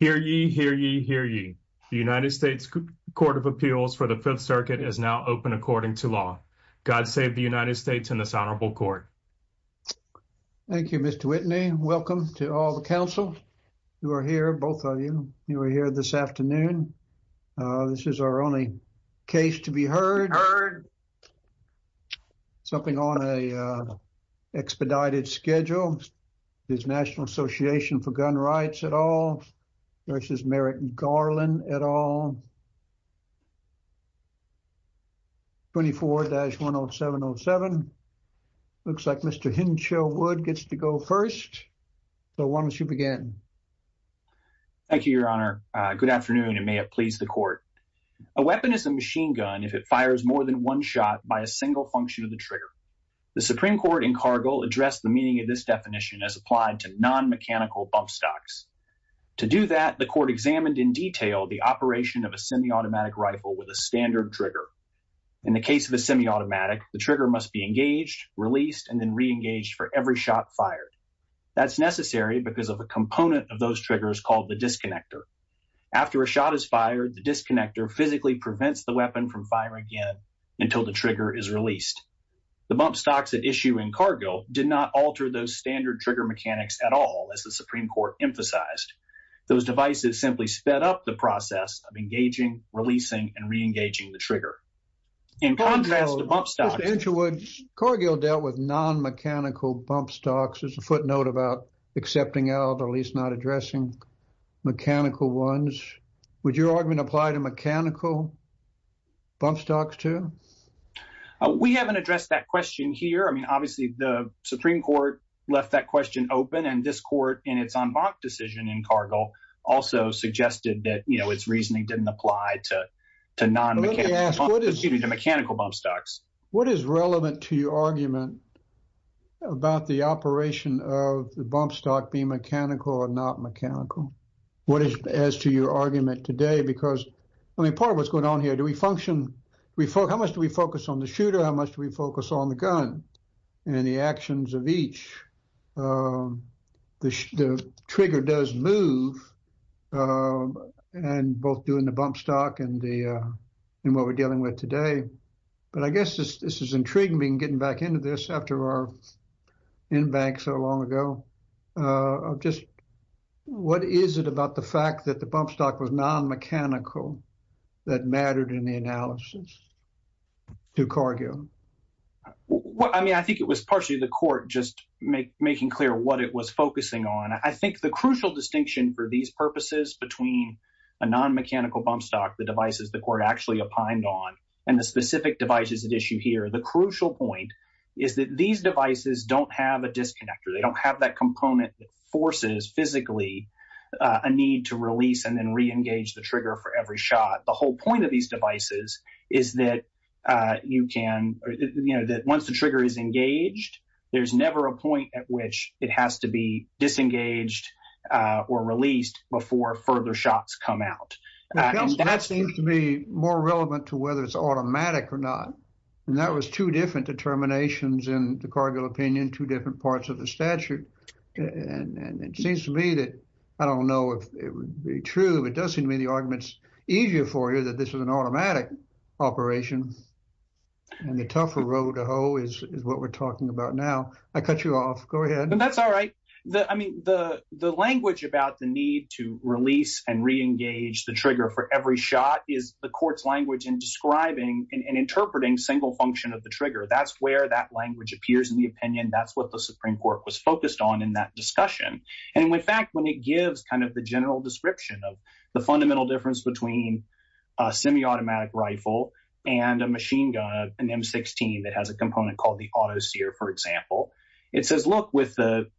Hear ye, hear ye, hear ye. The United States Court of Appeals for the Fifth Circuit is now open according to law. God save the United States and this honorable court. Thank you, Mr. Whitney. Welcome to all the council who are here, both of you. You are here this afternoon. This is our only case to be heard. Heard. Something on a expedited schedule. Is National Association for Gun Rights at all versus Merritt and Garland at all? 24-10707. Looks like Mr. Hinshaw Wood gets to go first. So why don't you begin? Thank you, your honor. Good afternoon and may it please the court. A weapon is a machine gun if it fires more than one shot by a single function of the trigger. The Supreme Court in Cargill addressed the meaning of this definition as applied to non-mechanical bump stocks. To do that, the court examined in detail the operation of a semi-automatic rifle with a standard trigger. In the case of a semi-automatic, the trigger must be engaged, released, and then re-engaged for every shot fired. That's necessary because of component of those triggers called the disconnector. After a shot is fired, the disconnector physically prevents the weapon from firing again until the trigger is released. The bump stocks at issue in Cargill did not alter those standard trigger mechanics at all, as the Supreme Court emphasized. Those devices simply sped up the process of engaging, releasing, and re-engaging the trigger. In contrast to bump stocks, Mr. Hinshaw Wood, Cargill dealt with non-mechanical bump stocks. There's a footnote about accepting out or at least not addressing mechanical ones. Would your argument apply to mechanical bump stocks too? We haven't addressed that question here. I mean, obviously, the Supreme Court left that question open. And this court, in its en banc decision in Cargill, also suggested that, you know, its reasoning didn't apply to non-mechanical, to mechanical bump stocks. What is relevant to your argument about the operation of the bump stock being mechanical or not mechanical? What is, as to your argument today? Because, I mean, part of what's going on here, do we function, we focus, how much do we focus on the shooter? How much do we focus on the gun and the actions of each? The trigger does move and both doing the bump stock and the, and what we're dealing with today. But I guess this is intriguing being getting back into this after our en banc so long ago. Just what is it about the fact that the bump stock was non-mechanical that mattered in the analysis to Cargill? Well, I mean, I think it was partially the court just making clear what it was focusing on. I think the crucial distinction for these between a non-mechanical bump stock, the devices the court actually opined on, and the specific devices at issue here. The crucial point is that these devices don't have a disconnector. They don't have that component that forces physically a need to release and then re-engage the trigger for every shot. The whole point of these devices is that you can, you know, that once the trigger is engaged, there's never a point at which it has to be disengaged or released before further shots come out. And that seems to be more relevant to whether it's automatic or not. And that was two different determinations in the Cargill opinion, two different parts of the statute. And it seems to me that, I don't know if it would be true, but it does seem to me the arguments easier for you that this was an automatic operation and the tougher road to hoe is what we're talking about now. I cut you off. Go ahead. That's all right. I mean, the language about the release and re-engage the trigger for every shot is the court's language in describing and interpreting single function of the trigger. That's where that language appears in the opinion. That's what the Supreme Court was focused on in that discussion. And in fact, when it gives kind of the general description of the fundamental difference between a semi-automatic rifle and a machine gun, an M16 that has a component called the auto sear, for example, it says, look, with the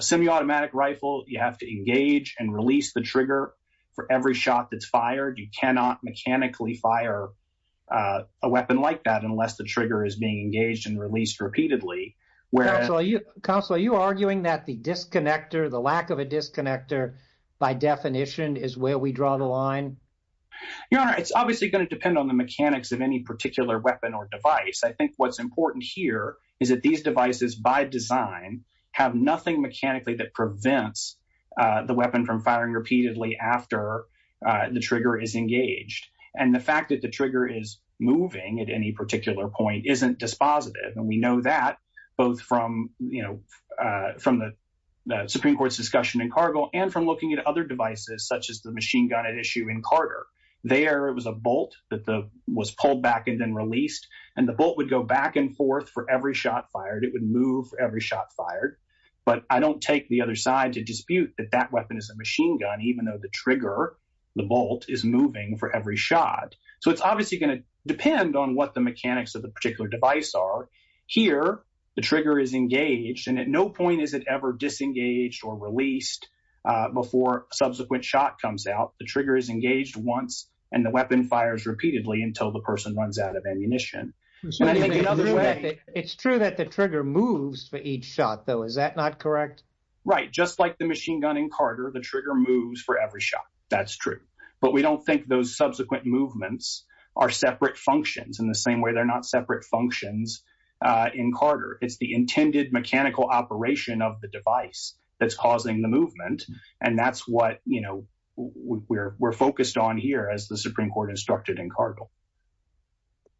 semi-automatic rifle, you have to engage and release the trigger for every shot that's fired. You cannot mechanically fire a weapon like that unless the trigger is being engaged and released repeatedly. Counsel, are you arguing that the disconnector, the lack of a disconnector, by definition, is where we draw the line? Your Honor, it's obviously going to depend on the mechanics of any particular weapon or device. I think what's important here is that these devices, by design, have nothing mechanically that prevents the weapon from firing repeatedly after the trigger is engaged. And the fact that the trigger is moving at any particular point isn't dispositive. And we know that both from the Supreme Court's discussion in Cargill and from looking at other devices, such as the machine gun at issue in Carter. There was a bolt that was pulled back and then released, and the bolt would go back and forth for every shot fired. It would move for every shot fired. But I don't take the other side to dispute that that weapon is a machine gun, even though the trigger, the bolt, is moving for every shot. So it's obviously going to depend on what the mechanics of the particular device are. Here, the trigger is engaged, and at no point is it ever disengaged or released before a subsequent shot comes out. The trigger is engaged once, and the weapon fires repeatedly until the person runs out of ammunition. So it's true that the trigger moves for each shot, though. Is that not correct? Right. Just like the machine gun in Carter, the trigger moves for every shot. That's true. But we don't think those subsequent movements are separate functions in the same way they're not separate functions in Carter. It's the intended mechanical operation of the device that's causing the movement. And that's what we're focused on here, as the Supreme Court instructed in Cargill.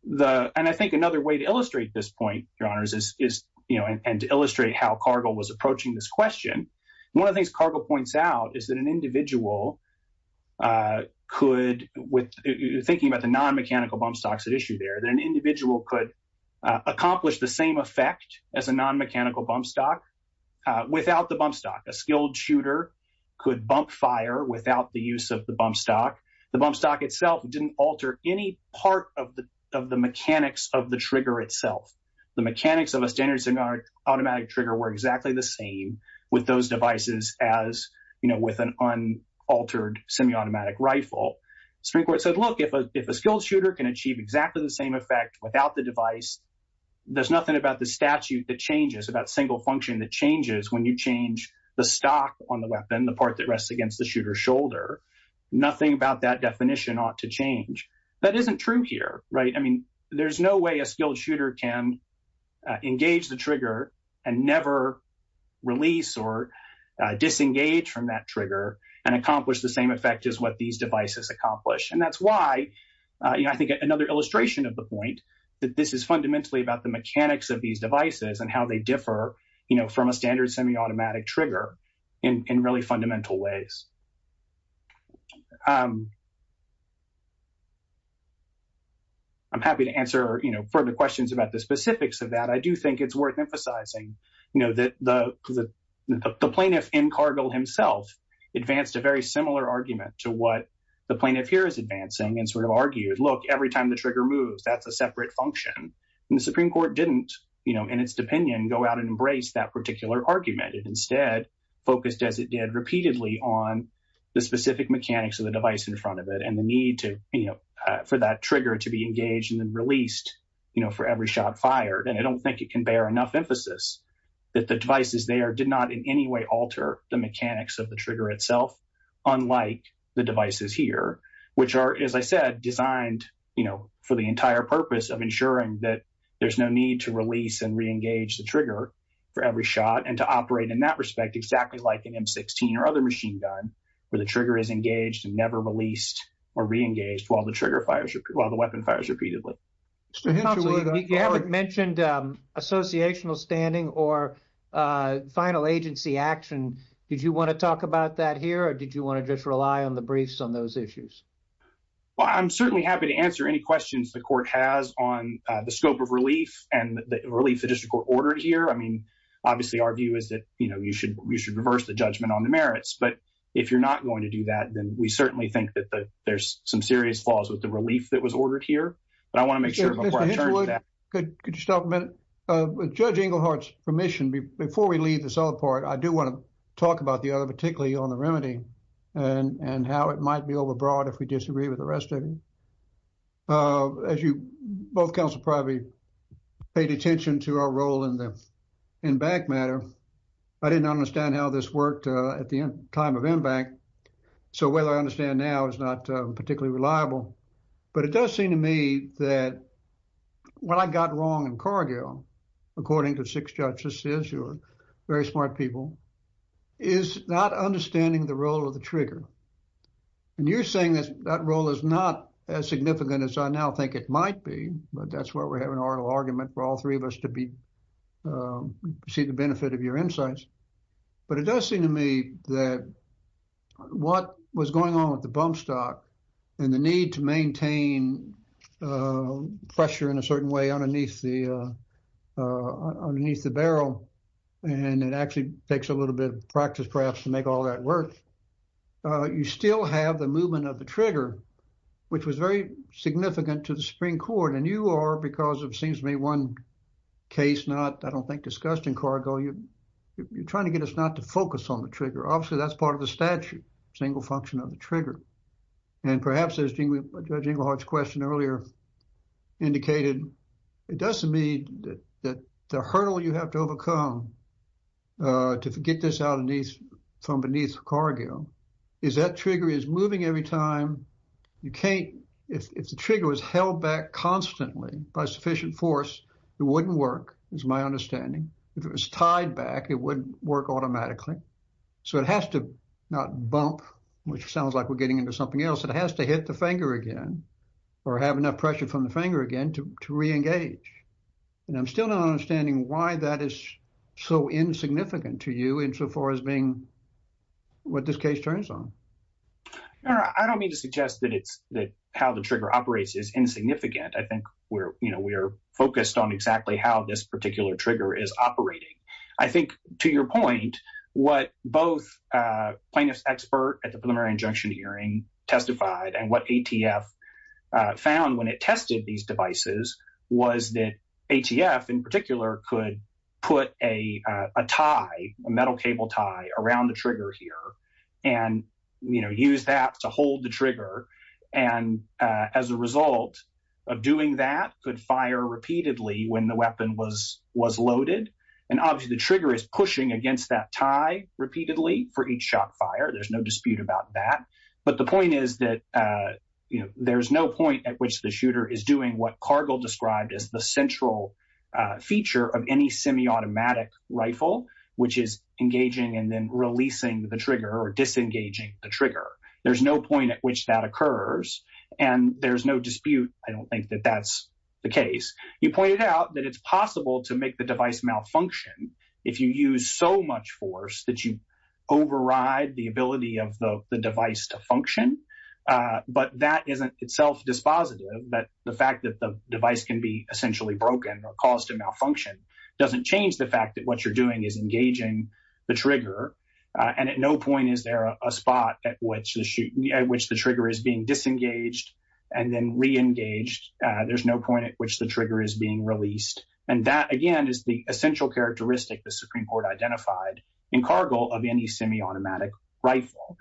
And I think another way to illustrate this point, Your Honors, and to illustrate how Cargill was approaching this question, one of the things Cargill points out is that an individual could, thinking about the non-mechanical bump stocks at issue there, that an individual could accomplish the same effect as a non-mechanical bump stock without the bump stock. A skilled shooter could bump fire without the use of the bump stock. The bump stock itself didn't alter any part of the mechanics of the trigger itself. The mechanics of a standard semiautomatic trigger were exactly the same with those devices as, you know, with an unaltered semiautomatic rifle. Supreme Court said, look, if a skilled shooter can achieve exactly the same effect without the device, there's nothing about the statute that changes, about single function that changes when you change the stock on the weapon, the part that definition ought to change. That isn't true here, right? I mean, there's no way a skilled shooter can engage the trigger and never release or disengage from that trigger and accomplish the same effect as what these devices accomplish. And that's why, you know, I think another illustration of the point, that this is fundamentally about the mechanics of these devices and how they differ, you know, from a standard semiautomatic trigger in really ways. I'm happy to answer, you know, further questions about the specifics of that. I do think it's worth emphasizing, you know, that the plaintiff in Cargill himself advanced a very similar argument to what the plaintiff here is advancing and sort of argued, look, every time the trigger moves, that's a separate function. And the Supreme Court didn't, you know, in its opinion, go out and embrace that particular argument. It instead focused as it did repeatedly on the specific mechanics of the device in front of it and the need to, you know, for that trigger to be engaged and then released, you know, for every shot fired. And I don't think it can bear enough emphasis that the devices there did not in any way alter the mechanics of the trigger itself, unlike the devices here, which are, as I said, designed, you know, for the entire purpose of ensuring that there's no need to release and re-engage the trigger for every shot and to operate in that respect, exactly like an M16 or other machine gun, where the trigger is engaged and never released or re-engaged while the trigger fires, while the weapon fires repeatedly. You haven't mentioned associational standing or final agency action. Did you want to talk about that here, or did you want to just rely on the briefs on those issues? Well, I'm certainly happy to answer any questions the court has on the scope of relief and the relief the district court ordered here. I mean, obviously, our view is that, you know, you should reverse the judgment on the merits. But if you're not going to do that, then we certainly think that there's some serious flaws with the relief that was ordered here. But I want to make sure before I turn to that. Mr. Hitchwood, could you stop a minute? With Judge Englehart's permission, before we leave this other part, I do want to talk about the other, particularly on the remedy and how it might be overbrought if we disagree with the rest of it. As you both counsel probably paid attention to our role in the in-bank matter, I didn't understand how this worked at the time of in-bank. So whether I understand now is not particularly reliable. But it does seem to me that what I got wrong in Cargill, according to six judges, you're very smart people, is not understanding the role of the trigger. And you're saying that that role is not as significant as I now think it might be. But that's why we're having an oral argument for all three of us to be see the benefit of your insights. But it does seem to me that what was going on with the bump stock and the need to maintain pressure in a certain way underneath the barrel. And it actually takes a little bit of practice, perhaps, to make all that work. You still have the movement of the trigger, which was very significant to the Supreme Court. And you are, because it seems to me one case not, I don't think, discussed in Cargill, you're trying to get us not to focus on the trigger. And perhaps, as Judge Ingleheart's question earlier indicated, it does seem to me that the hurdle you have to overcome to get this out from beneath Cargill is that trigger is moving every time. You can't, if the trigger was held back constantly by sufficient force, it wouldn't work, is my understanding. If it was tied back, it wouldn't work automatically. So it has to not bump, which sounds like we're getting into something else, it has to hit the finger again or have enough pressure from the finger again to re-engage. And I'm still not understanding why that is so insignificant to you insofar as being what this case turns on. I don't mean to suggest that it's that how the trigger operates is insignificant. I think we're, you know, we're focused on exactly how this particular trigger is operating. I think, to your point, what both plaintiffs' expert at the preliminary injunction hearing testified and what ATF found when it tested these devices was that ATF, in particular, could put a tie, a metal cable tie, around the trigger here and, you know, use that to hold the trigger. And as a result of doing that, could fire repeatedly when the weapon was loaded. And obviously the trigger is pushing against that tie repeatedly for each shot fired, there's no dispute about that. But the point is that, you know, there's no point at which the shooter is doing what Cargill described as the central feature of any semi-automatic rifle, which is engaging and then releasing the trigger or disengaging the trigger. There's no point at which that occurs and there's no dispute. I don't think that that's the case. You pointed out that it's possible to make the device malfunction if you use so much force that you override the ability of the device to function. But that isn't itself dispositive, that the fact that the device can be essentially broken or caused to malfunction doesn't change the fact that what you're doing is engaging the trigger. And at no point is there a spot at which the trigger is being disengaged and then re-engaged. There's no point at which the trigger is being released. And that again is the essential characteristic the Supreme Court identified in Cargill of any semi-automatic rifle.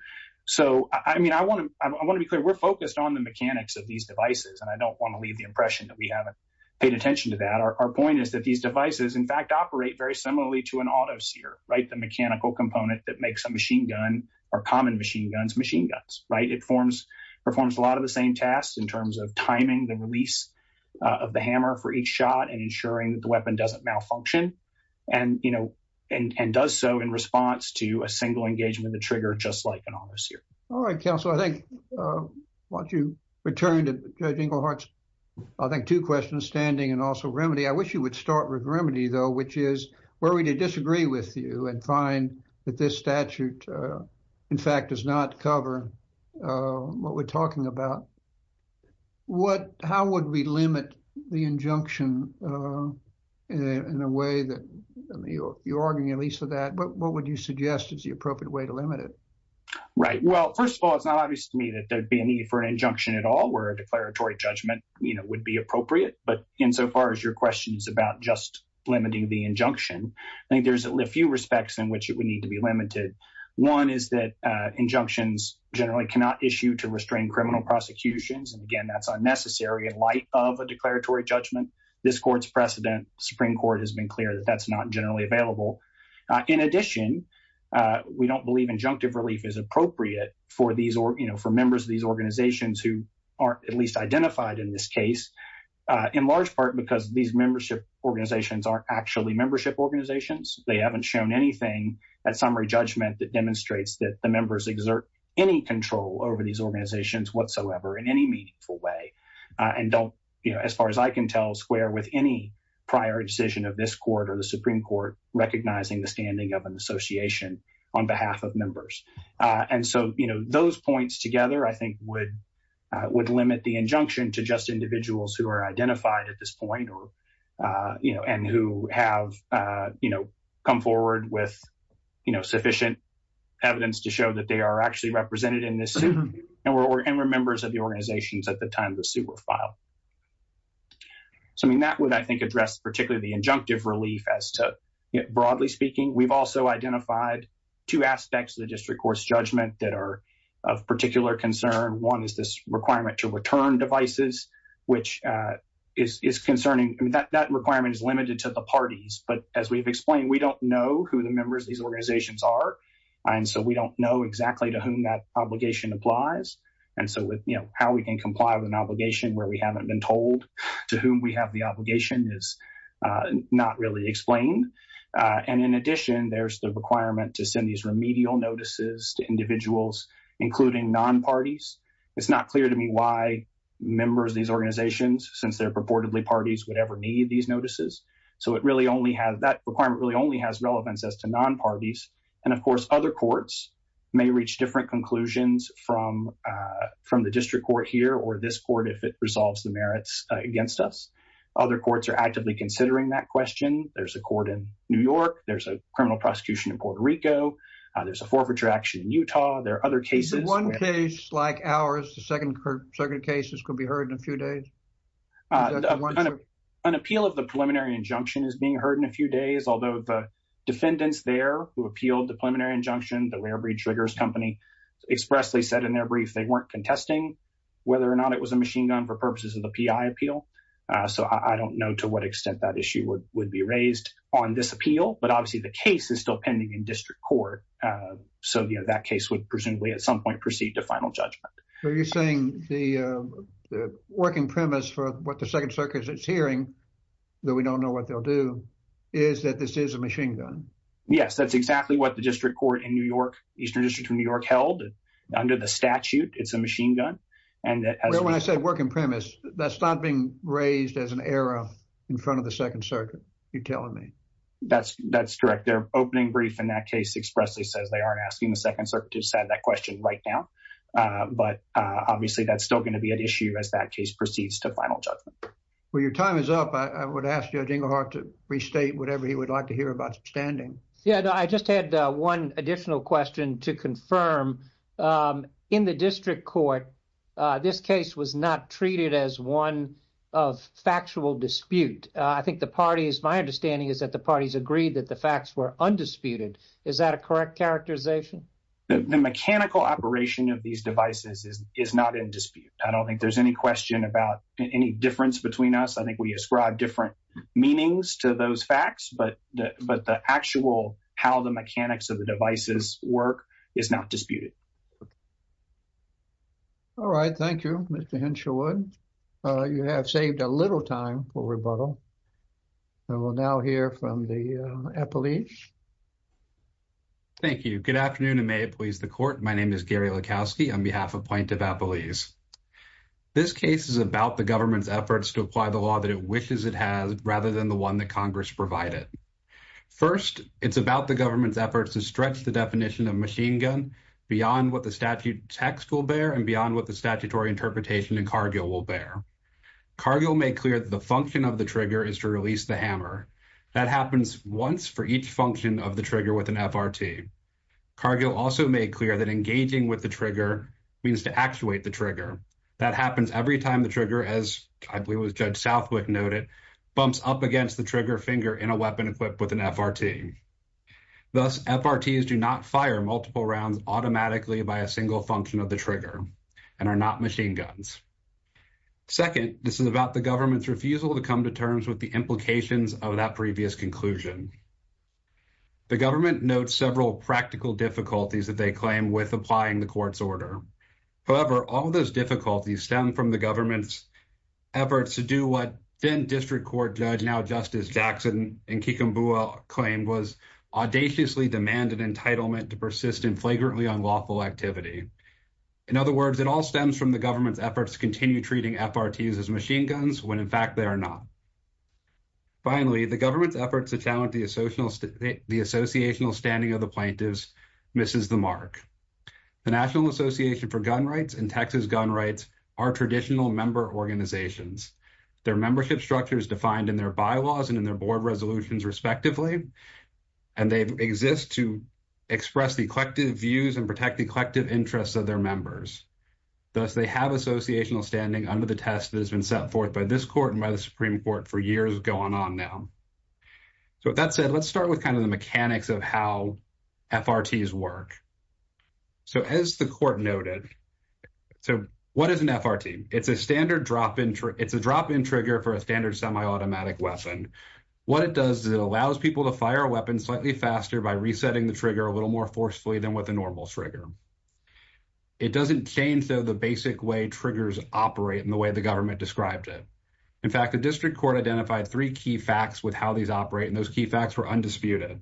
So, I mean, I want to be clear, we're focused on the mechanics of these devices and I don't want to leave the impression that we haven't paid attention to that. Our point is that these devices in fact operate very similarly to an auto-seer, right? The mechanical component that makes a machine gun or common machine guns, machine guns, right? It performs a lot of the same tasks in terms of timing the release of the hammer for each shot and ensuring that the weapon doesn't malfunction and does so in response to a single engagement of the trigger just like an auto-seer. All right, counsel. I think why don't you return to Judge Ingleheart's, I think, two questions, standing and also remedy. I wish you would start with remedy though, which is where we disagree with you and find that this statute, in fact, does not cover what we're talking about. How would we limit the injunction in a way that, I mean, you're arguing at least for that, but what would you suggest is the appropriate way to limit it? Right. Well, first of all, it's not obvious to me that there'd be a need for an injunction at all where a declaratory judgment, you know, would be appropriate. But insofar as your question is about limiting the injunction, I think there's a few respects in which it would need to be limited. One is that injunctions generally cannot issue to restrain criminal prosecutions. And again, that's unnecessary in light of a declaratory judgment. This court's precedent, Supreme Court, has been clear that that's not generally available. In addition, we don't believe injunctive relief is appropriate for members of these organizations who aren't at least identified in this case, in large part because these membership organizations aren't actually membership organizations. They haven't shown anything at summary judgment that demonstrates that the members exert any control over these organizations whatsoever in any meaningful way. And don't, you know, as far as I can tell, square with any prior decision of this court or the Supreme Court recognizing the standing of an association on behalf of members. And so, you know, those points together, I think, would limit the injunction to just individuals who are identified at this point and who have, you know, come forward with, you know, sufficient evidence to show that they are actually represented in this suit and were members of the organizations at the time the suit was filed. So, I mean, that would, I think, address particularly the injunctive relief as to, broadly speaking. We've also identified two aspects of the district court's judgment that of particular concern. One is this requirement to return devices, which is concerning. That requirement is limited to the parties. But as we've explained, we don't know who the members of these organizations are. And so, we don't know exactly to whom that obligation applies. And so, with, you know, how we can comply with an obligation where we haven't been told to whom we have the obligation is not really explained. And in addition, there's the requirement to send these remedial notices to individuals, including non-parties. It's not clear to me why members of these organizations, since they're purportedly parties, would ever need these notices. So, it really only has, that requirement really only has relevance as to non-parties. And of course, other courts may reach different conclusions from the district court here or this court if it resolves the merits against us. Other courts are actively considering that question. There's a court in New York. There's a criminal prosecution in Puerto Rico. There's a forfeiture action in Utah. There are other cases. Is there one case like ours, the second circuit cases, could be heard in a few days? An appeal of the preliminary injunction is being heard in a few days, although the defendants there who appealed the preliminary injunction, the Rare Breed Triggers Company, expressly said in their brief they weren't contesting whether or not it was a machine gun for purposes of the PI appeal. So, I don't know to what extent that issue would be raised on this appeal. But obviously, the case is still pending in district court. So, that case would presumably at some point proceed to final judgment. So, you're saying the working premise for what the second circuit is hearing, though we don't know what they'll do, is that this is a machine gun? Yes, that's exactly what the district court in New York, Eastern District of New York, held under the statute. It's a machine gun. When I say working premise, that's not being raised as an error in front of the second circuit, you're telling me? That's correct. Their opening brief in that case expressly says they aren't asking the second circuit to decide that question right now. But obviously, that's still going to be an issue as that case proceeds to final judgment. Well, your time is up. I would ask Judge Inglehart to restate whatever he would like to hear about standing. Yeah, I just had one additional question to confirm. In the district court, this case was not treated as one of factual dispute. I think the parties, my understanding is that the parties agreed that the facts were undisputed. Is that a correct characterization? The mechanical operation of these devices is not in dispute. I don't think there's any question about any difference between us. I think we ascribe different meanings to those facts, but the actual how the mechanics of the devices work is not disputed. All right, thank you, Mr. Henshawood. You have saved a little time for rebuttal. And we'll now hear from the appellees. Thank you. Good afternoon, and may it please the court. My name is Gary Lukowski on behalf of Point of Appellees. This case is about the government's efforts to apply the law that it First, it's about the government's efforts to stretch the definition of machine gun beyond what the statute text will bear and beyond what the statutory interpretation in Cargill will bear. Cargill made clear that the function of the trigger is to release the hammer. That happens once for each function of the trigger with an FRT. Cargill also made clear that engaging with the trigger means to actuate the trigger. That happens every time the trigger, as I believe Judge Southwick noted, bumps up against the trigger finger in a weapon equipped with an FRT. Thus, FRTs do not fire multiple rounds automatically by a single function of the trigger and are not machine guns. Second, this is about the government's refusal to come to terms with the implications of that previous conclusion. The government notes several practical difficulties that they claim with applying the court's order. However, all those difficulties stem from the government's efforts to do what then District Court Judge, now Justice Jackson in Kikambua claimed was audaciously demanded entitlement to persist in flagrantly unlawful activity. In other words, it all stems from the government's efforts to continue treating FRTs as machine guns when, in fact, they are not. Finally, the government's efforts to challenge the associational standing of the plaintiffs misses the mark. The National Association for Gun Rights and Texas Gun Rights are traditional member organizations. Their membership structure is defined in their bylaws and in their board resolutions, respectively, and they exist to express the collective views and protect the collective interests of their members. Thus, they have associational standing under the test that has been set forth by this court and by the Supreme Court for years going on now. With that said, let's start with kind of the mechanics of how FRTs work. So, as the court noted, so what is an FRT? It's a standard drop-in, it's a drop-in trigger for a standard semi-automatic weapon. What it does is it allows people to fire a weapon slightly faster by resetting the trigger a little more forcefully than with a normal trigger. It doesn't change, though, the basic way triggers operate in the way the government described it. In fact, the District Court identified three key facts with these operate, and those key facts were undisputed.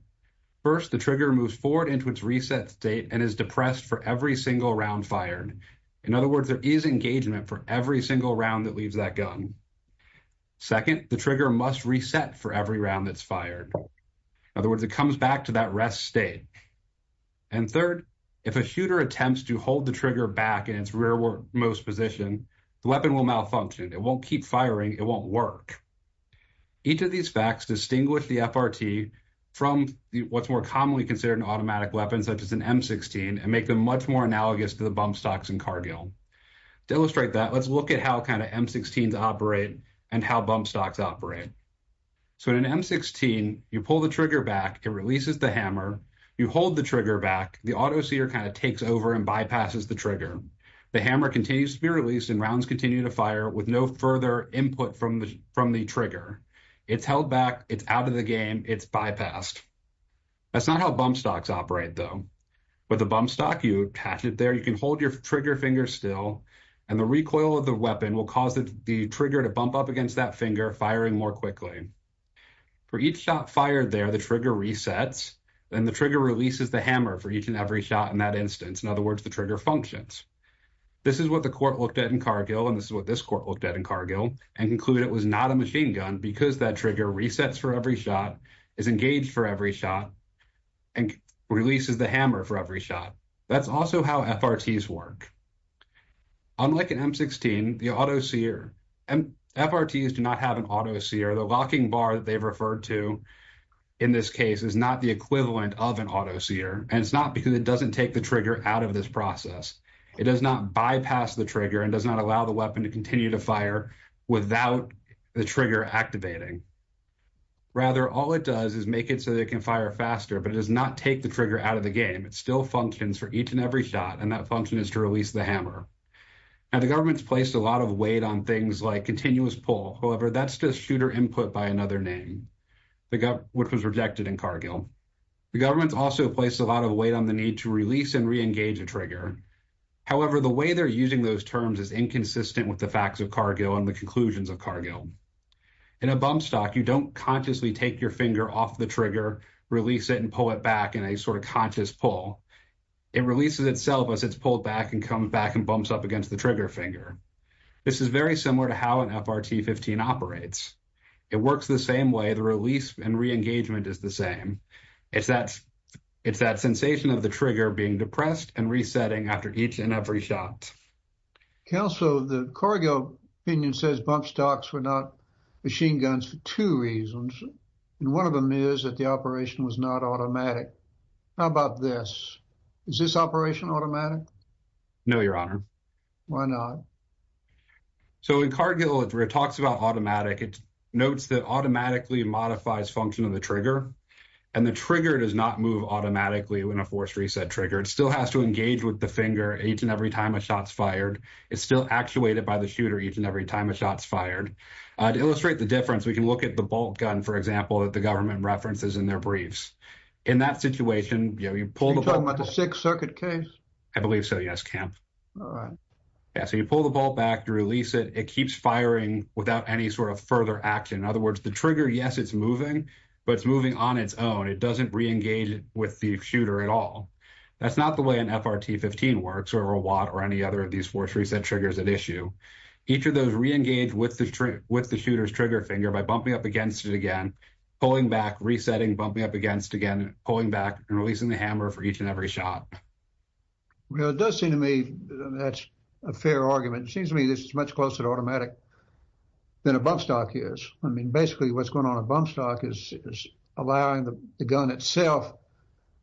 First, the trigger moves forward into its reset state and is depressed for every single round fired. In other words, there is engagement for every single round that leaves that gun. Second, the trigger must reset for every round that's fired. In other words, it comes back to that rest state. And third, if a shooter attempts to hold the trigger back in its rearmost position, the weapon will won't keep firing, it won't work. Each of these facts distinguish the FRT from what's more commonly considered an automatic weapon, such as an M16, and make them much more analogous to the bump stocks in Cargill. To illustrate that, let's look at how kind of M16s operate and how bump stocks operate. So, in an M16, you pull the trigger back, it releases the hammer, you hold the trigger back, the auto-seer kind of takes over and bypasses the trigger. The hammer continues to be released and with no further input from the trigger. It's held back, it's out of the game, it's bypassed. That's not how bump stocks operate though. With a bump stock, you attach it there, you can hold your trigger finger still, and the recoil of the weapon will cause the trigger to bump up against that finger, firing more quickly. For each shot fired there, the trigger resets, then the trigger releases the hammer for each and every shot in that instance. In other words, the trigger functions. This is what the court looked at in Cargill, and this is what this court looked at in Cargill, and concluded it was not a machine gun because that trigger resets for every shot, is engaged for every shot, and releases the hammer for every shot. That's also how FRTs work. Unlike an M16, the auto-seer, FRTs do not have an auto-seer. The locking bar that they've referred to in this case is not the equivalent of an auto-seer, and it's not because it doesn't take the trigger out of this process. It does not bypass the trigger and does not allow the weapon to continue to fire without the trigger activating. Rather, all it does is make it so that it can fire faster, but it does not take the trigger out of the game. It still functions for each and every shot, and that function is to release the hammer. Now, the government's placed a lot of weight on things like continuous pull. However, that's just shooter input by another name, which was rejected in Cargill. The government's also placed a lot of weight on the need to release and re-engage a trigger. However, the way they're using those terms is inconsistent with the facts of Cargill and the conclusions of Cargill. In a bump stock, you don't consciously take your finger off the trigger, release it, and pull it back in a sort of conscious pull. It releases itself as it's pulled back and comes back and bumps up against the trigger finger. This is very similar to how an FRT-15 operates. It works the same way. The release and re-engagement is the same. It's that sensation of the trigger being depressed and resetting after each and every shot. Kel, so the Cargill opinion says bump stocks were not machine guns for two reasons, and one of them is that the operation was not automatic. How about this? Is this operation automatic? No, your honor. Why not? So, in Cargill, it talks about automatic. It notes that automatically modifies function of the trigger, and the trigger does not move automatically when a force reset trigger. It still has to engage with the finger each and every time a shot's fired. It's still actuated by the shooter each and every time a shot's fired. To illustrate the difference, we can look at the bolt gun, for example, that the government references in their briefs. In that situation, you know, you pull the bolt. Are you talking about the Sixth Circuit case? I believe so, yes, Kemp. All right. Yeah, so you pull the bolt back, you release it, it keeps firing without any sort of further action. In other words, the trigger, yes, it's moving, but it's moving on its own. It doesn't re-engage with the shooter at all. That's not the way an FRT-15 works, or a Watt, or any other of these force reset triggers at issue. Each of those re-engage with the shooter's trigger finger by bumping up against it again, pulling back, resetting, bumping up against again, pulling back, and releasing the hammer for each and every shot. Well, it does seem to me that's a fair argument. It seems to me this is much closer to automatic than a bump stock is. I mean, basically what's going on a bump stock is allowing the gun itself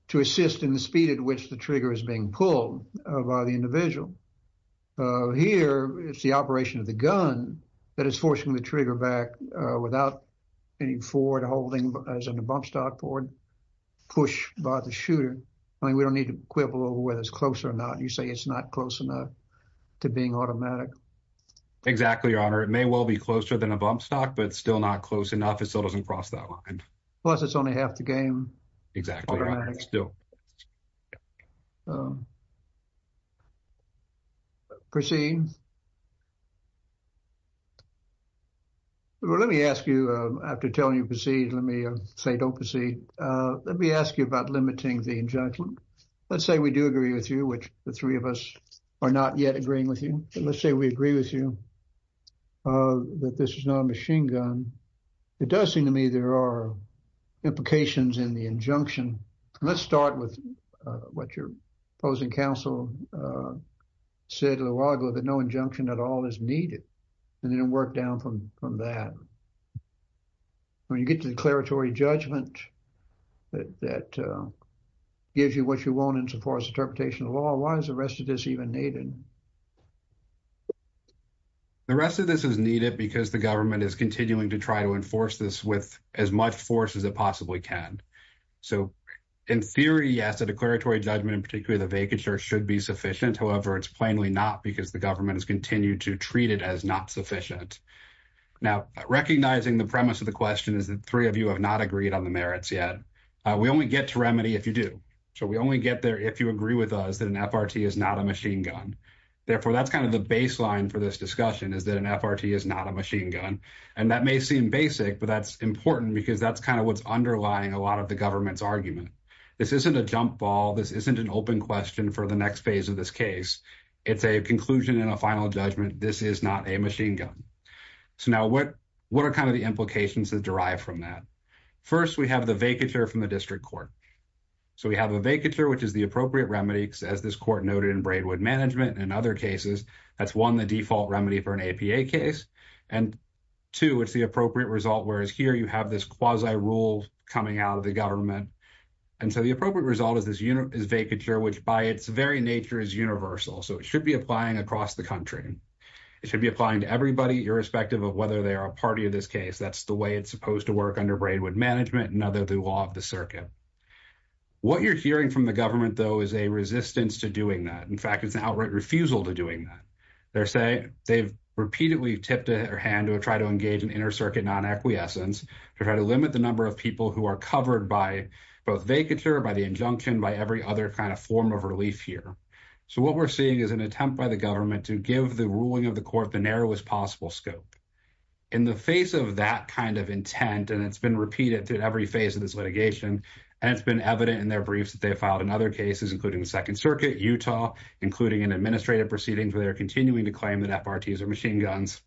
to assist in the speed at which the trigger is being pulled by the individual. Here, it's the operation of the gun that is forcing the trigger back without any forward holding as in a bump stock forward push by the shooter. I mean, we don't need to quibble over whether it's close or not. You say it's not close enough to being automatic. Exactly, Your Honor. It may well be closer than a bump stock, but it's still not close enough. It still doesn't cross that line. Plus, it's only half the game. Exactly, Your Honor. Still. Proceed. Well, let me ask you, after telling you proceed, let me say don't proceed. Let me ask you about limiting the injunction. Let's say we do agree with you, which the three of us are not yet agreeing with you. Let's say we agree with you that this is not a machine gun. It does seem to me there are implications in the injunction. Let's start with what your opposing counsel said a while ago that no injunction at all is needed and then work down from that. When you get to declaratory judgment that gives you what you want in so far as interpretation of law, why is the rest of this even needed? The rest of this is needed because the government is to try to enforce this with as much force as it possibly can. In theory, yes, the declaratory judgment, particularly the vacatur, should be sufficient. However, it's plainly not because the government has continued to treat it as not sufficient. Now, recognizing the premise of the question is that three of you have not agreed on the merits yet. We only get to remedy if you do. We only get there if you agree with us that an FRT is not a machine gun. Therefore, that's kind of baseline for this discussion is that an FRT is not a machine gun. That may seem basic, but that's important because that's kind of what's underlying a lot of the government's argument. This isn't a jump ball. This isn't an open question for the next phase of this case. It's a conclusion and a final judgment. This is not a machine gun. Now, what are kind of the implications that derive from that? First, we have the vacatur from the district court. We have a vacatur, which is the appropriate remedy, as this court noted in Braidwood Management and other cases. That's, one, the default remedy for an APA case, and two, it's the appropriate result, whereas here you have this quasi-rule coming out of the government. And so, the appropriate result is vacatur, which by its very nature is universal. So, it should be applying across the country. It should be applying to everybody, irrespective of whether they are a party of this case. That's the way it's supposed to work under Braidwood Management and under the law of the circuit. What you're hearing from the government, though, is a resistance to doing that. In fact, it's an outright refusal to doing that. They're saying they've repeatedly tipped their hand to try to engage in inter-circuit non-equiescence to try to limit the number of people who are covered by both vacatur, by the injunction, by every other kind of form of relief here. So, what we're seeing is an attempt by the government to give the ruling of the court the narrowest possible scope. In the face of that kind of intent, and it's been repeated through every phase of this litigation, and it's been evident in their briefs that they filed in other cases, including the Second Circuit, Utah, including in administrative proceedings where they're continuing to claim that FRTs are machine guns.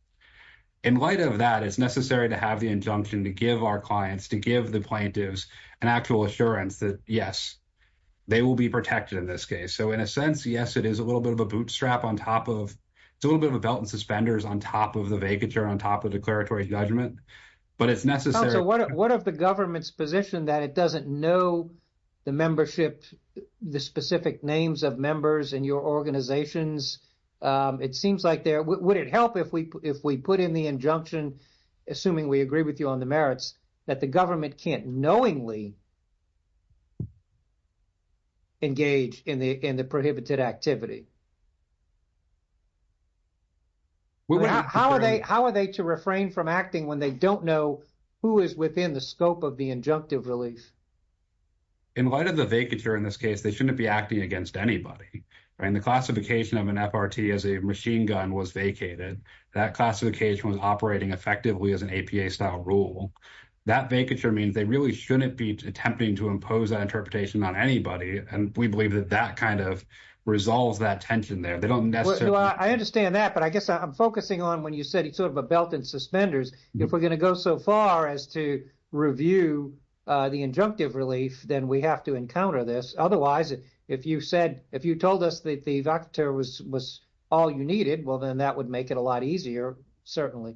In light of that, it's necessary to have the injunction to give our clients, to give the plaintiffs, an actual assurance that, yes, they will be protected in this case. So, in a sense, yes, it is a little bit of a bootstrap on top of, it's a little bit of a belt and suspenders on top of the vacatur, on top of declaratory judgment, but it's necessary. So, what of the government's position that it know the membership, the specific names of members in your organizations? It seems like they're, would it help if we put in the injunction, assuming we agree with you on the merits, that the government can't knowingly engage in the prohibited activity? How are they to refrain from acting when they don't know who is within the scope of the In light of the vacatur in this case, they shouldn't be acting against anybody, right? And the classification of an FRT as a machine gun was vacated. That classification was operating effectively as an APA style rule. That vacatur means they really shouldn't be attempting to impose that interpretation on anybody. And we believe that that kind of resolves that tension there. They don't necessarily I understand that, but I guess I'm focusing on when you said it's sort of a belt and suspenders. If we're going to go so far as to review the injunctive relief, then we have to encounter this. Otherwise, if you said, if you told us that the vacatur was all you needed, well, then that would make it a lot easier, certainly.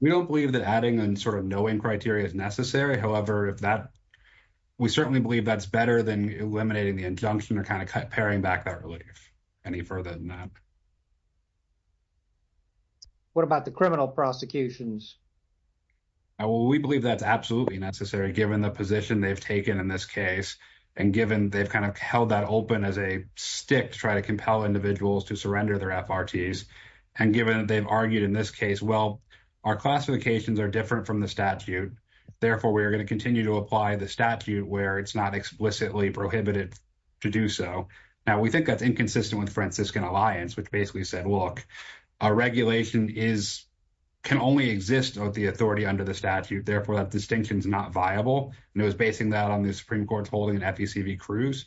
We don't believe that adding and sort of knowing criteria is necessary. However, if that, we certainly believe that's better than eliminating the injunction or kind of paring back that relief any further than that. What about the criminal prosecutions? We believe that's absolutely necessary given the position they've taken in this case. And given they've kind of held that open as a stick to try to compel individuals to surrender their FRTs. And given that they've argued in this case, well, our classifications are different from the statute. Therefore, we are going to continue to apply the statute where it's not explicitly prohibited to do so. Now, we think that's inconsistent with the Franciscan Alliance, which basically said, look, our regulation can only exist with the authority under the statute. Therefore, that distinction is not viable. And it was basing that on the Supreme Court's holding in FECV Cruz.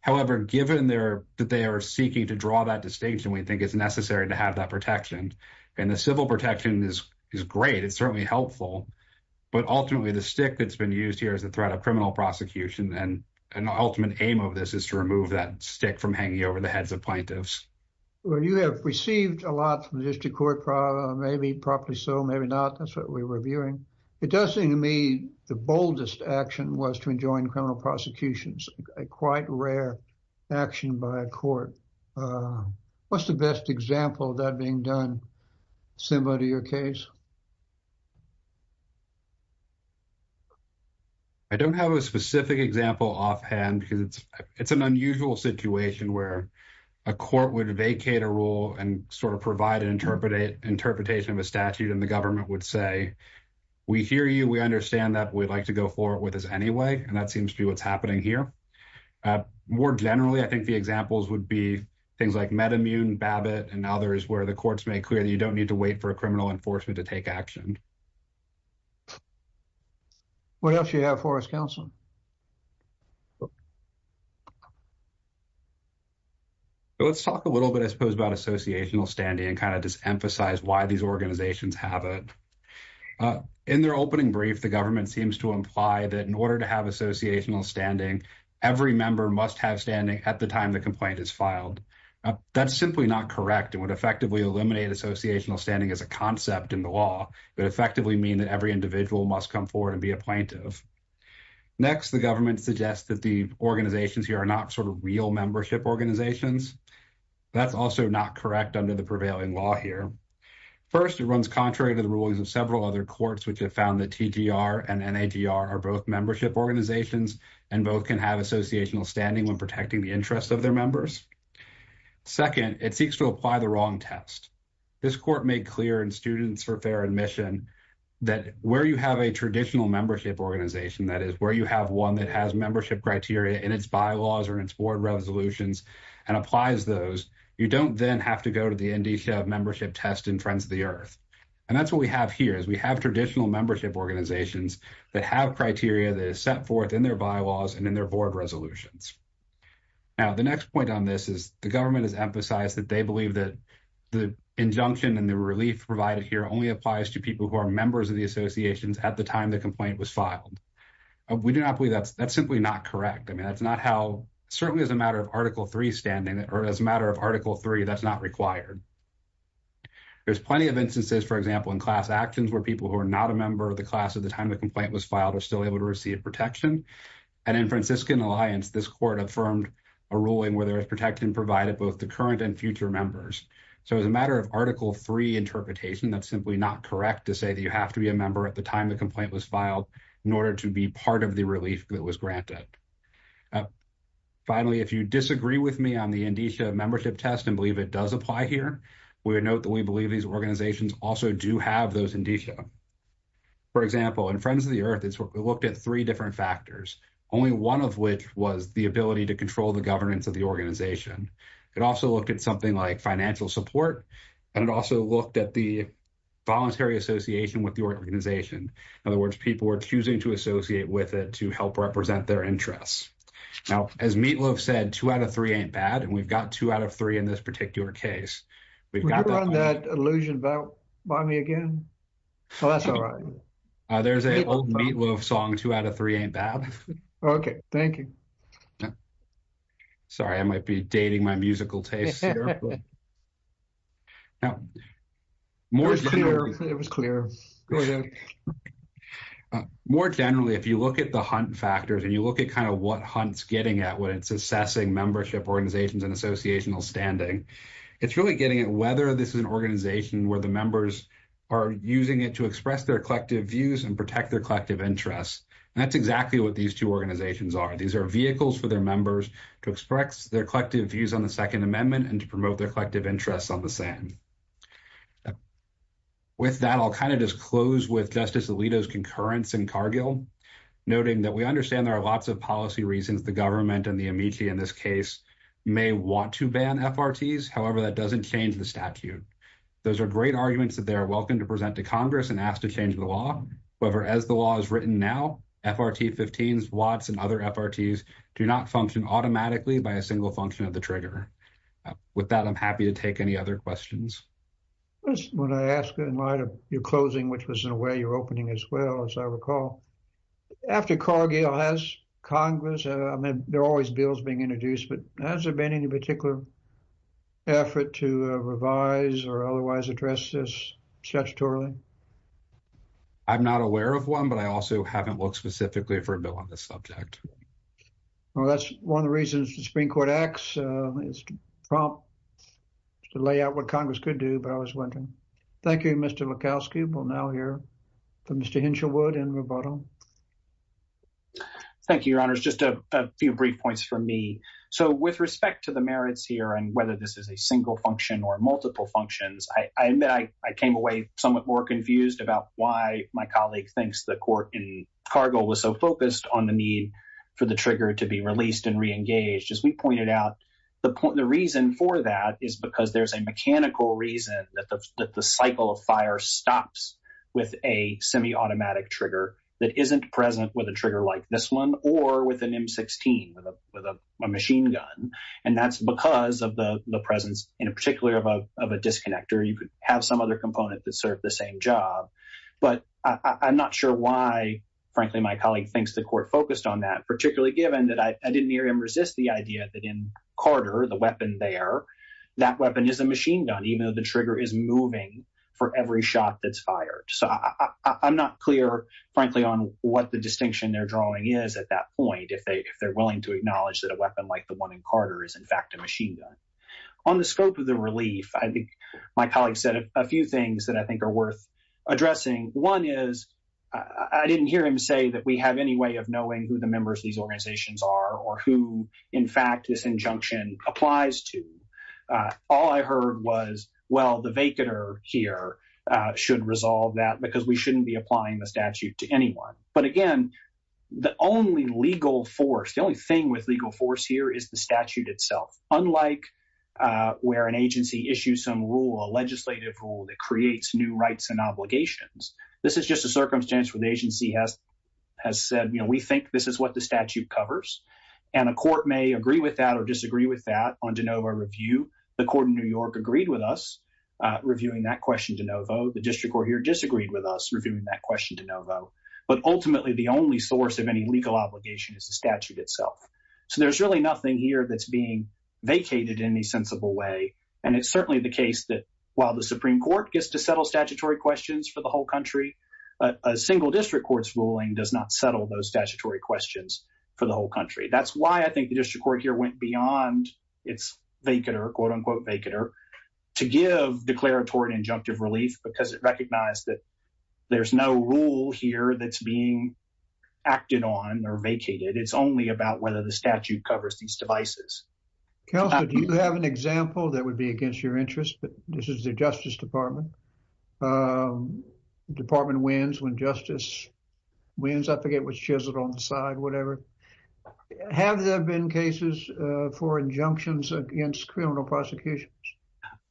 However, given that they are seeking to draw that distinction, we think it's necessary to have that protection. And the civil protection is great. It's certainly helpful. But ultimately, the stick that's been used here is the threat of criminal prosecution. And an ultimate aim of this is to remove that stick from hanging over the heads of plaintiffs. Well, you have received a lot from the district court probably, maybe probably so, maybe not. That's what we're reviewing. It does seem to me the boldest action was to enjoin criminal prosecutions, a quite rare action by a court. What's the best example of that being done similar to your case? I don't have a specific example offhand because it's an unusual situation where a court would vacate a rule and sort of provide an interpretation of a statute and the government would say, we hear you, we understand that, we'd like to go forward with this anyway. And that seems to be what's happening here. More generally, I think the examples would be things like MedImmune, Babbitt, and others where the courts make clear that you don't need to wait for a criminal enforcement to take action. What else do you have for us, counsel? Let's talk a little bit, I suppose, about associational standing and kind of just emphasize why these organizations have it. In their opening brief, the government seems to imply that in order to have associational standing, every member must have standing at the time the complaint is filed. That's simply not correct. It would effectively eliminate associational standing as a concept in the law, but effectively mean that every individual must come forward and be a plaintiff. Next, the government suggests that the organizations here are not sort of real membership organizations. That's also not correct under the prevailing law here. First, it runs contrary to the rulings of several other courts, which have found that TGR and NAGR are both membership organizations and both can have associational standing when protecting the interests of their members. Second, it seeks to apply the wrong test. This court made clear in Students for Fair Admission that where you have a traditional membership organization, that is, where you have one that has membership criteria in its bylaws or in its board resolutions and applies those, you don't then have to go to the NDSHA membership test in Friends of the Earth. And that's what we have here, is we have traditional membership organizations that have criteria that is set forth in their bylaws and in their board resolutions. Now, the next point on this is the government has emphasized that they believe that the injunction and the relief provided here only applies to people who are members of the associations at the time the complaint was filed. We do not believe that's, that's simply not correct. I mean, that's not how, certainly as a matter of Article 3 standing or as a matter of Article 3, that's not required. There's plenty of instances, for example, in class actions where people who are not a member of the class at the time the complaint was filed are still able to receive protection. And in Franciscan Alliance, this court affirmed a ruling where there is protected and provided both the current and future members. So, as a matter of Article 3 interpretation, that's simply not correct to say that you have to be a member at the time the complaint was filed in order to be part of the relief that was granted. Finally, if you disagree with me on the NDSHA membership test and believe it does apply here, we would note that we believe these organizations also do have those NDSHA. For example, in Friends of the Earth, it looked at three different factors, only one of which was the ability to control the governance of the organization. It also looked at something like financial support, and it also looked at the voluntary association with the organization. In other words, people were choosing to associate with it to help represent their interests. Now, as Meatloaf said, two out of three ain't bad, and we've got two out of three in this case. There's an old Meatloaf song, two out of three ain't bad. Okay, thank you. Sorry, I might be dating my musical taste here. It was clear. More generally, if you look at the hunt factors and you look at kind of what Hunt's getting at when it's assessing membership organizations and associational standing, it's really getting at whether this is an organization where the members are using it to express their collective views and protect their collective interests, and that's exactly what these two organizations are. These are vehicles for their members to express their collective views on the Second Amendment and to promote their collective interests on the same. With that, I'll kind of just close with Justice Alito's concurrence in Cargill, noting that we understand there are lots of policy reasons the government and the amici in this case may want to ban FRTs. However, that doesn't change the statute. Those are great arguments that they are welcome to present to Congress and ask to change the law. However, as the law is written now, FRT 15s, WATs, and other FRTs do not function automatically by a single function of the trigger. With that, I'm happy to take any other questions. When I asked in light of your closing, which was in a way your opening as well, as I recall, after Cargill has Congress, I mean, there are always bills being introduced, but has there been any particular effort to revise or otherwise address this statutorily? I'm not aware of one, but I also haven't looked specifically for a bill on this subject. Well, that's one of the reasons the Supreme Court acts. It's prompt to lay out what Congress could do, but I was wondering. Thank you, Mr. Lukowski. We'll now hear from Mr. Hinshelwood in rebuttal. Thank you, Your Honors. Just a few brief points from me. So with respect to the merits here and whether this is a single function or multiple functions, I came away somewhat more confused about why my colleague thinks the court in Cargill was so focused on the need for the trigger to be released and reengaged. As we pointed out, the reason for that is because there's a mechanical reason that the cycle of fire stops with a semi-automatic trigger that isn't present with a trigger like this one or with an M16, with a machine gun. And that's because of the presence, in particular, of a disconnector. You could have some other component that served the same job. But I'm not sure why, frankly, my colleague thinks the court focused on that, particularly given that I didn't near him resist the idea that in Carter, the weapon there, that weapon is a machine gun, even though the trigger is moving for every shot that's fired. So I'm not clear, frankly, on what the distinction they're drawing is at that point, if they're willing to acknowledge that a weapon like the one in Carter is, in fact, a machine gun. On the scope of the relief, I think my colleague said a few things that I think are worth addressing. One is I didn't hear him say that we have any way of knowing who the members of these organizations are or who, in fact, this injunction applies to. All I heard was, well, the vacater here should resolve that because we shouldn't be applying the statute to anyone. But again, the only legal force, the only thing with legal force here is the statute itself. Unlike where an agency issues some rule, a legislative rule that creates new rights and obligations, this is just a circumstance where the agency has said, you know, we think this is what the statute covers. And a court may agree with that or disagree with that on de novo review. The court in New York agreed with us reviewing that question de novo. The district court here disagreed with us reviewing that question de novo. But ultimately, the only source of any legal obligation is the statute itself. So there's really nothing here that's being vacated in any sensible way. And it's certainly the case that while the Supreme Court gets to settle statutory questions for the whole country, a single district court's ruling does not settle those statutory questions for the whole country. That's why I think the district court here went beyond its vacater, quote-unquote vacater, to give declaratory and injunctive relief because it recognized that there's no rule here that's being acted on or vacated. It's only about whether the statute covers these devices. Counselor, do you have an example that would be against your interest? This is the Justice Department. The department wins when justice wins. I forget what's chiseled on the side, whatever. Have there been cases for injunctions against criminal prosecutions?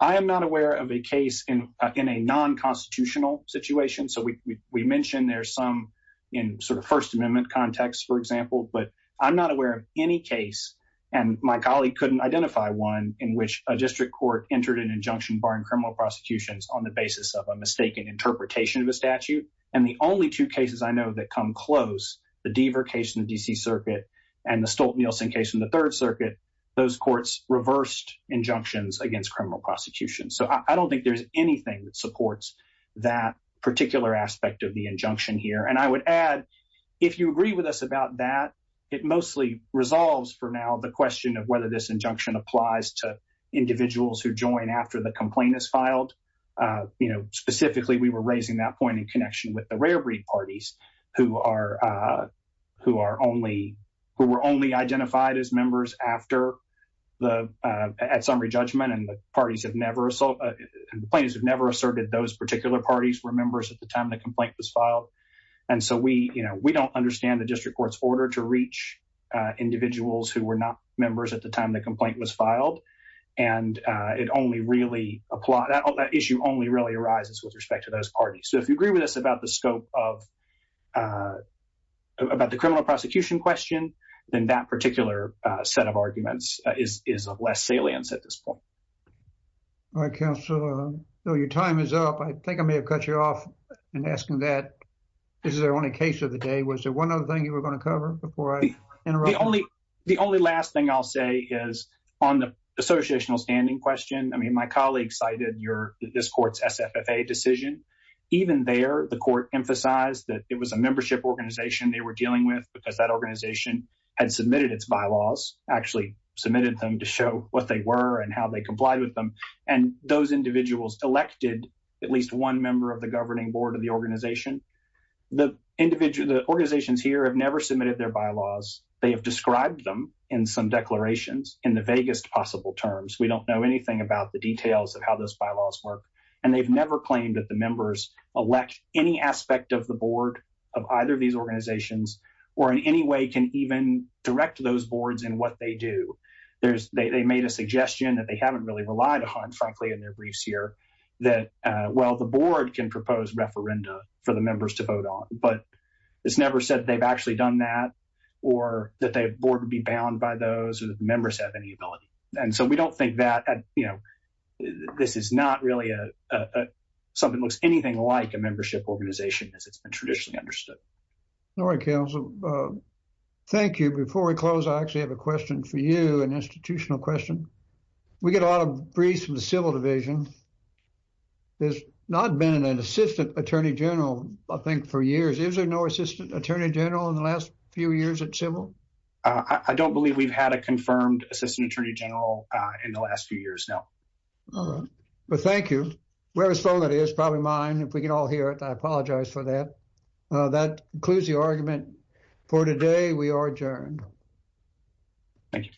I am not aware of a case in a non-constitutional situation. So we mentioned there's some in sort of First Amendment context, for example. But I'm not aware of any case, and my colleague couldn't identify one, in which a district court entered an injunction barring criminal prosecutions on the basis of a mistaken interpretation of a statute. And the only two cases I know that come close, the Deaver case in the D.C. Circuit and the Stolt-Nielsen case in the Third Circuit, those courts reversed injunctions against criminal prosecution. So I don't think there's anything that supports that particular aspect of the injunction here. And I would add, if you agree with us about that, it mostly resolves for now the question of whether this injunction applies to individuals who join after the complaint is filed. You know, specifically, we were raising that point in connection with the rare breed parties, who were only identified as members at summary judgment, and the plaintiffs have never asserted those particular parties were members at the time the complaint was filed. And so we, you know, we don't understand the district court's order to reach individuals who were not members at the time the complaint was filed. And it only really applies, that issue only really arises with respect to those parties. So if you agree with us about the scope of, about the criminal prosecution question, then that particular set of arguments is of less salience at this point. All right, Counselor. So your time is up. I think I may have cut you off in asking that. This is our only case of the day. Was there one other thing you were going to cover before I interrupt? The only, the only last thing I'll say is on the associational standing question, I mean, my colleague cited your, this court's SFFA decision. Even there, the court emphasized that it was a membership organization they were dealing with, because that organization had submitted its bylaws, actually submitted them to show what they were and how they complied with them. And those individuals elected at least one member of the governing board of the organization. The individual, the organizations here have never submitted their bylaws. They have described them in some declarations in the vaguest possible terms. We don't know anything about the details of how those bylaws work. And they've never claimed that the members elect any aspect of the board of either of these organizations or in any way can even direct those boards in what they do. There's, they made a suggestion that they haven't really relied on, frankly, in their briefs here that, well, the board can propose referenda for the members to vote on, but it's never said they've actually done that or that the board would be bound by those or that the members have any ability. And so we don't think that, you know, this is not really a, something looks anything like a membership organization as it's been traditionally understood. All right, counsel. Thank you. Before we close, I actually have a question for you, an institutional question. We get a lot of briefs from the civil division. There's not been an assistant attorney general, I think for years. Is there no assistant attorney general in the last few years at civil? I don't believe we've had a confirmed assistant attorney general in the last few years now. All right. Thank you. Whoever's phone that is, probably mine. If we can all hear it, I apologize for that. That concludes the argument for today. We are adjourned. Thank you.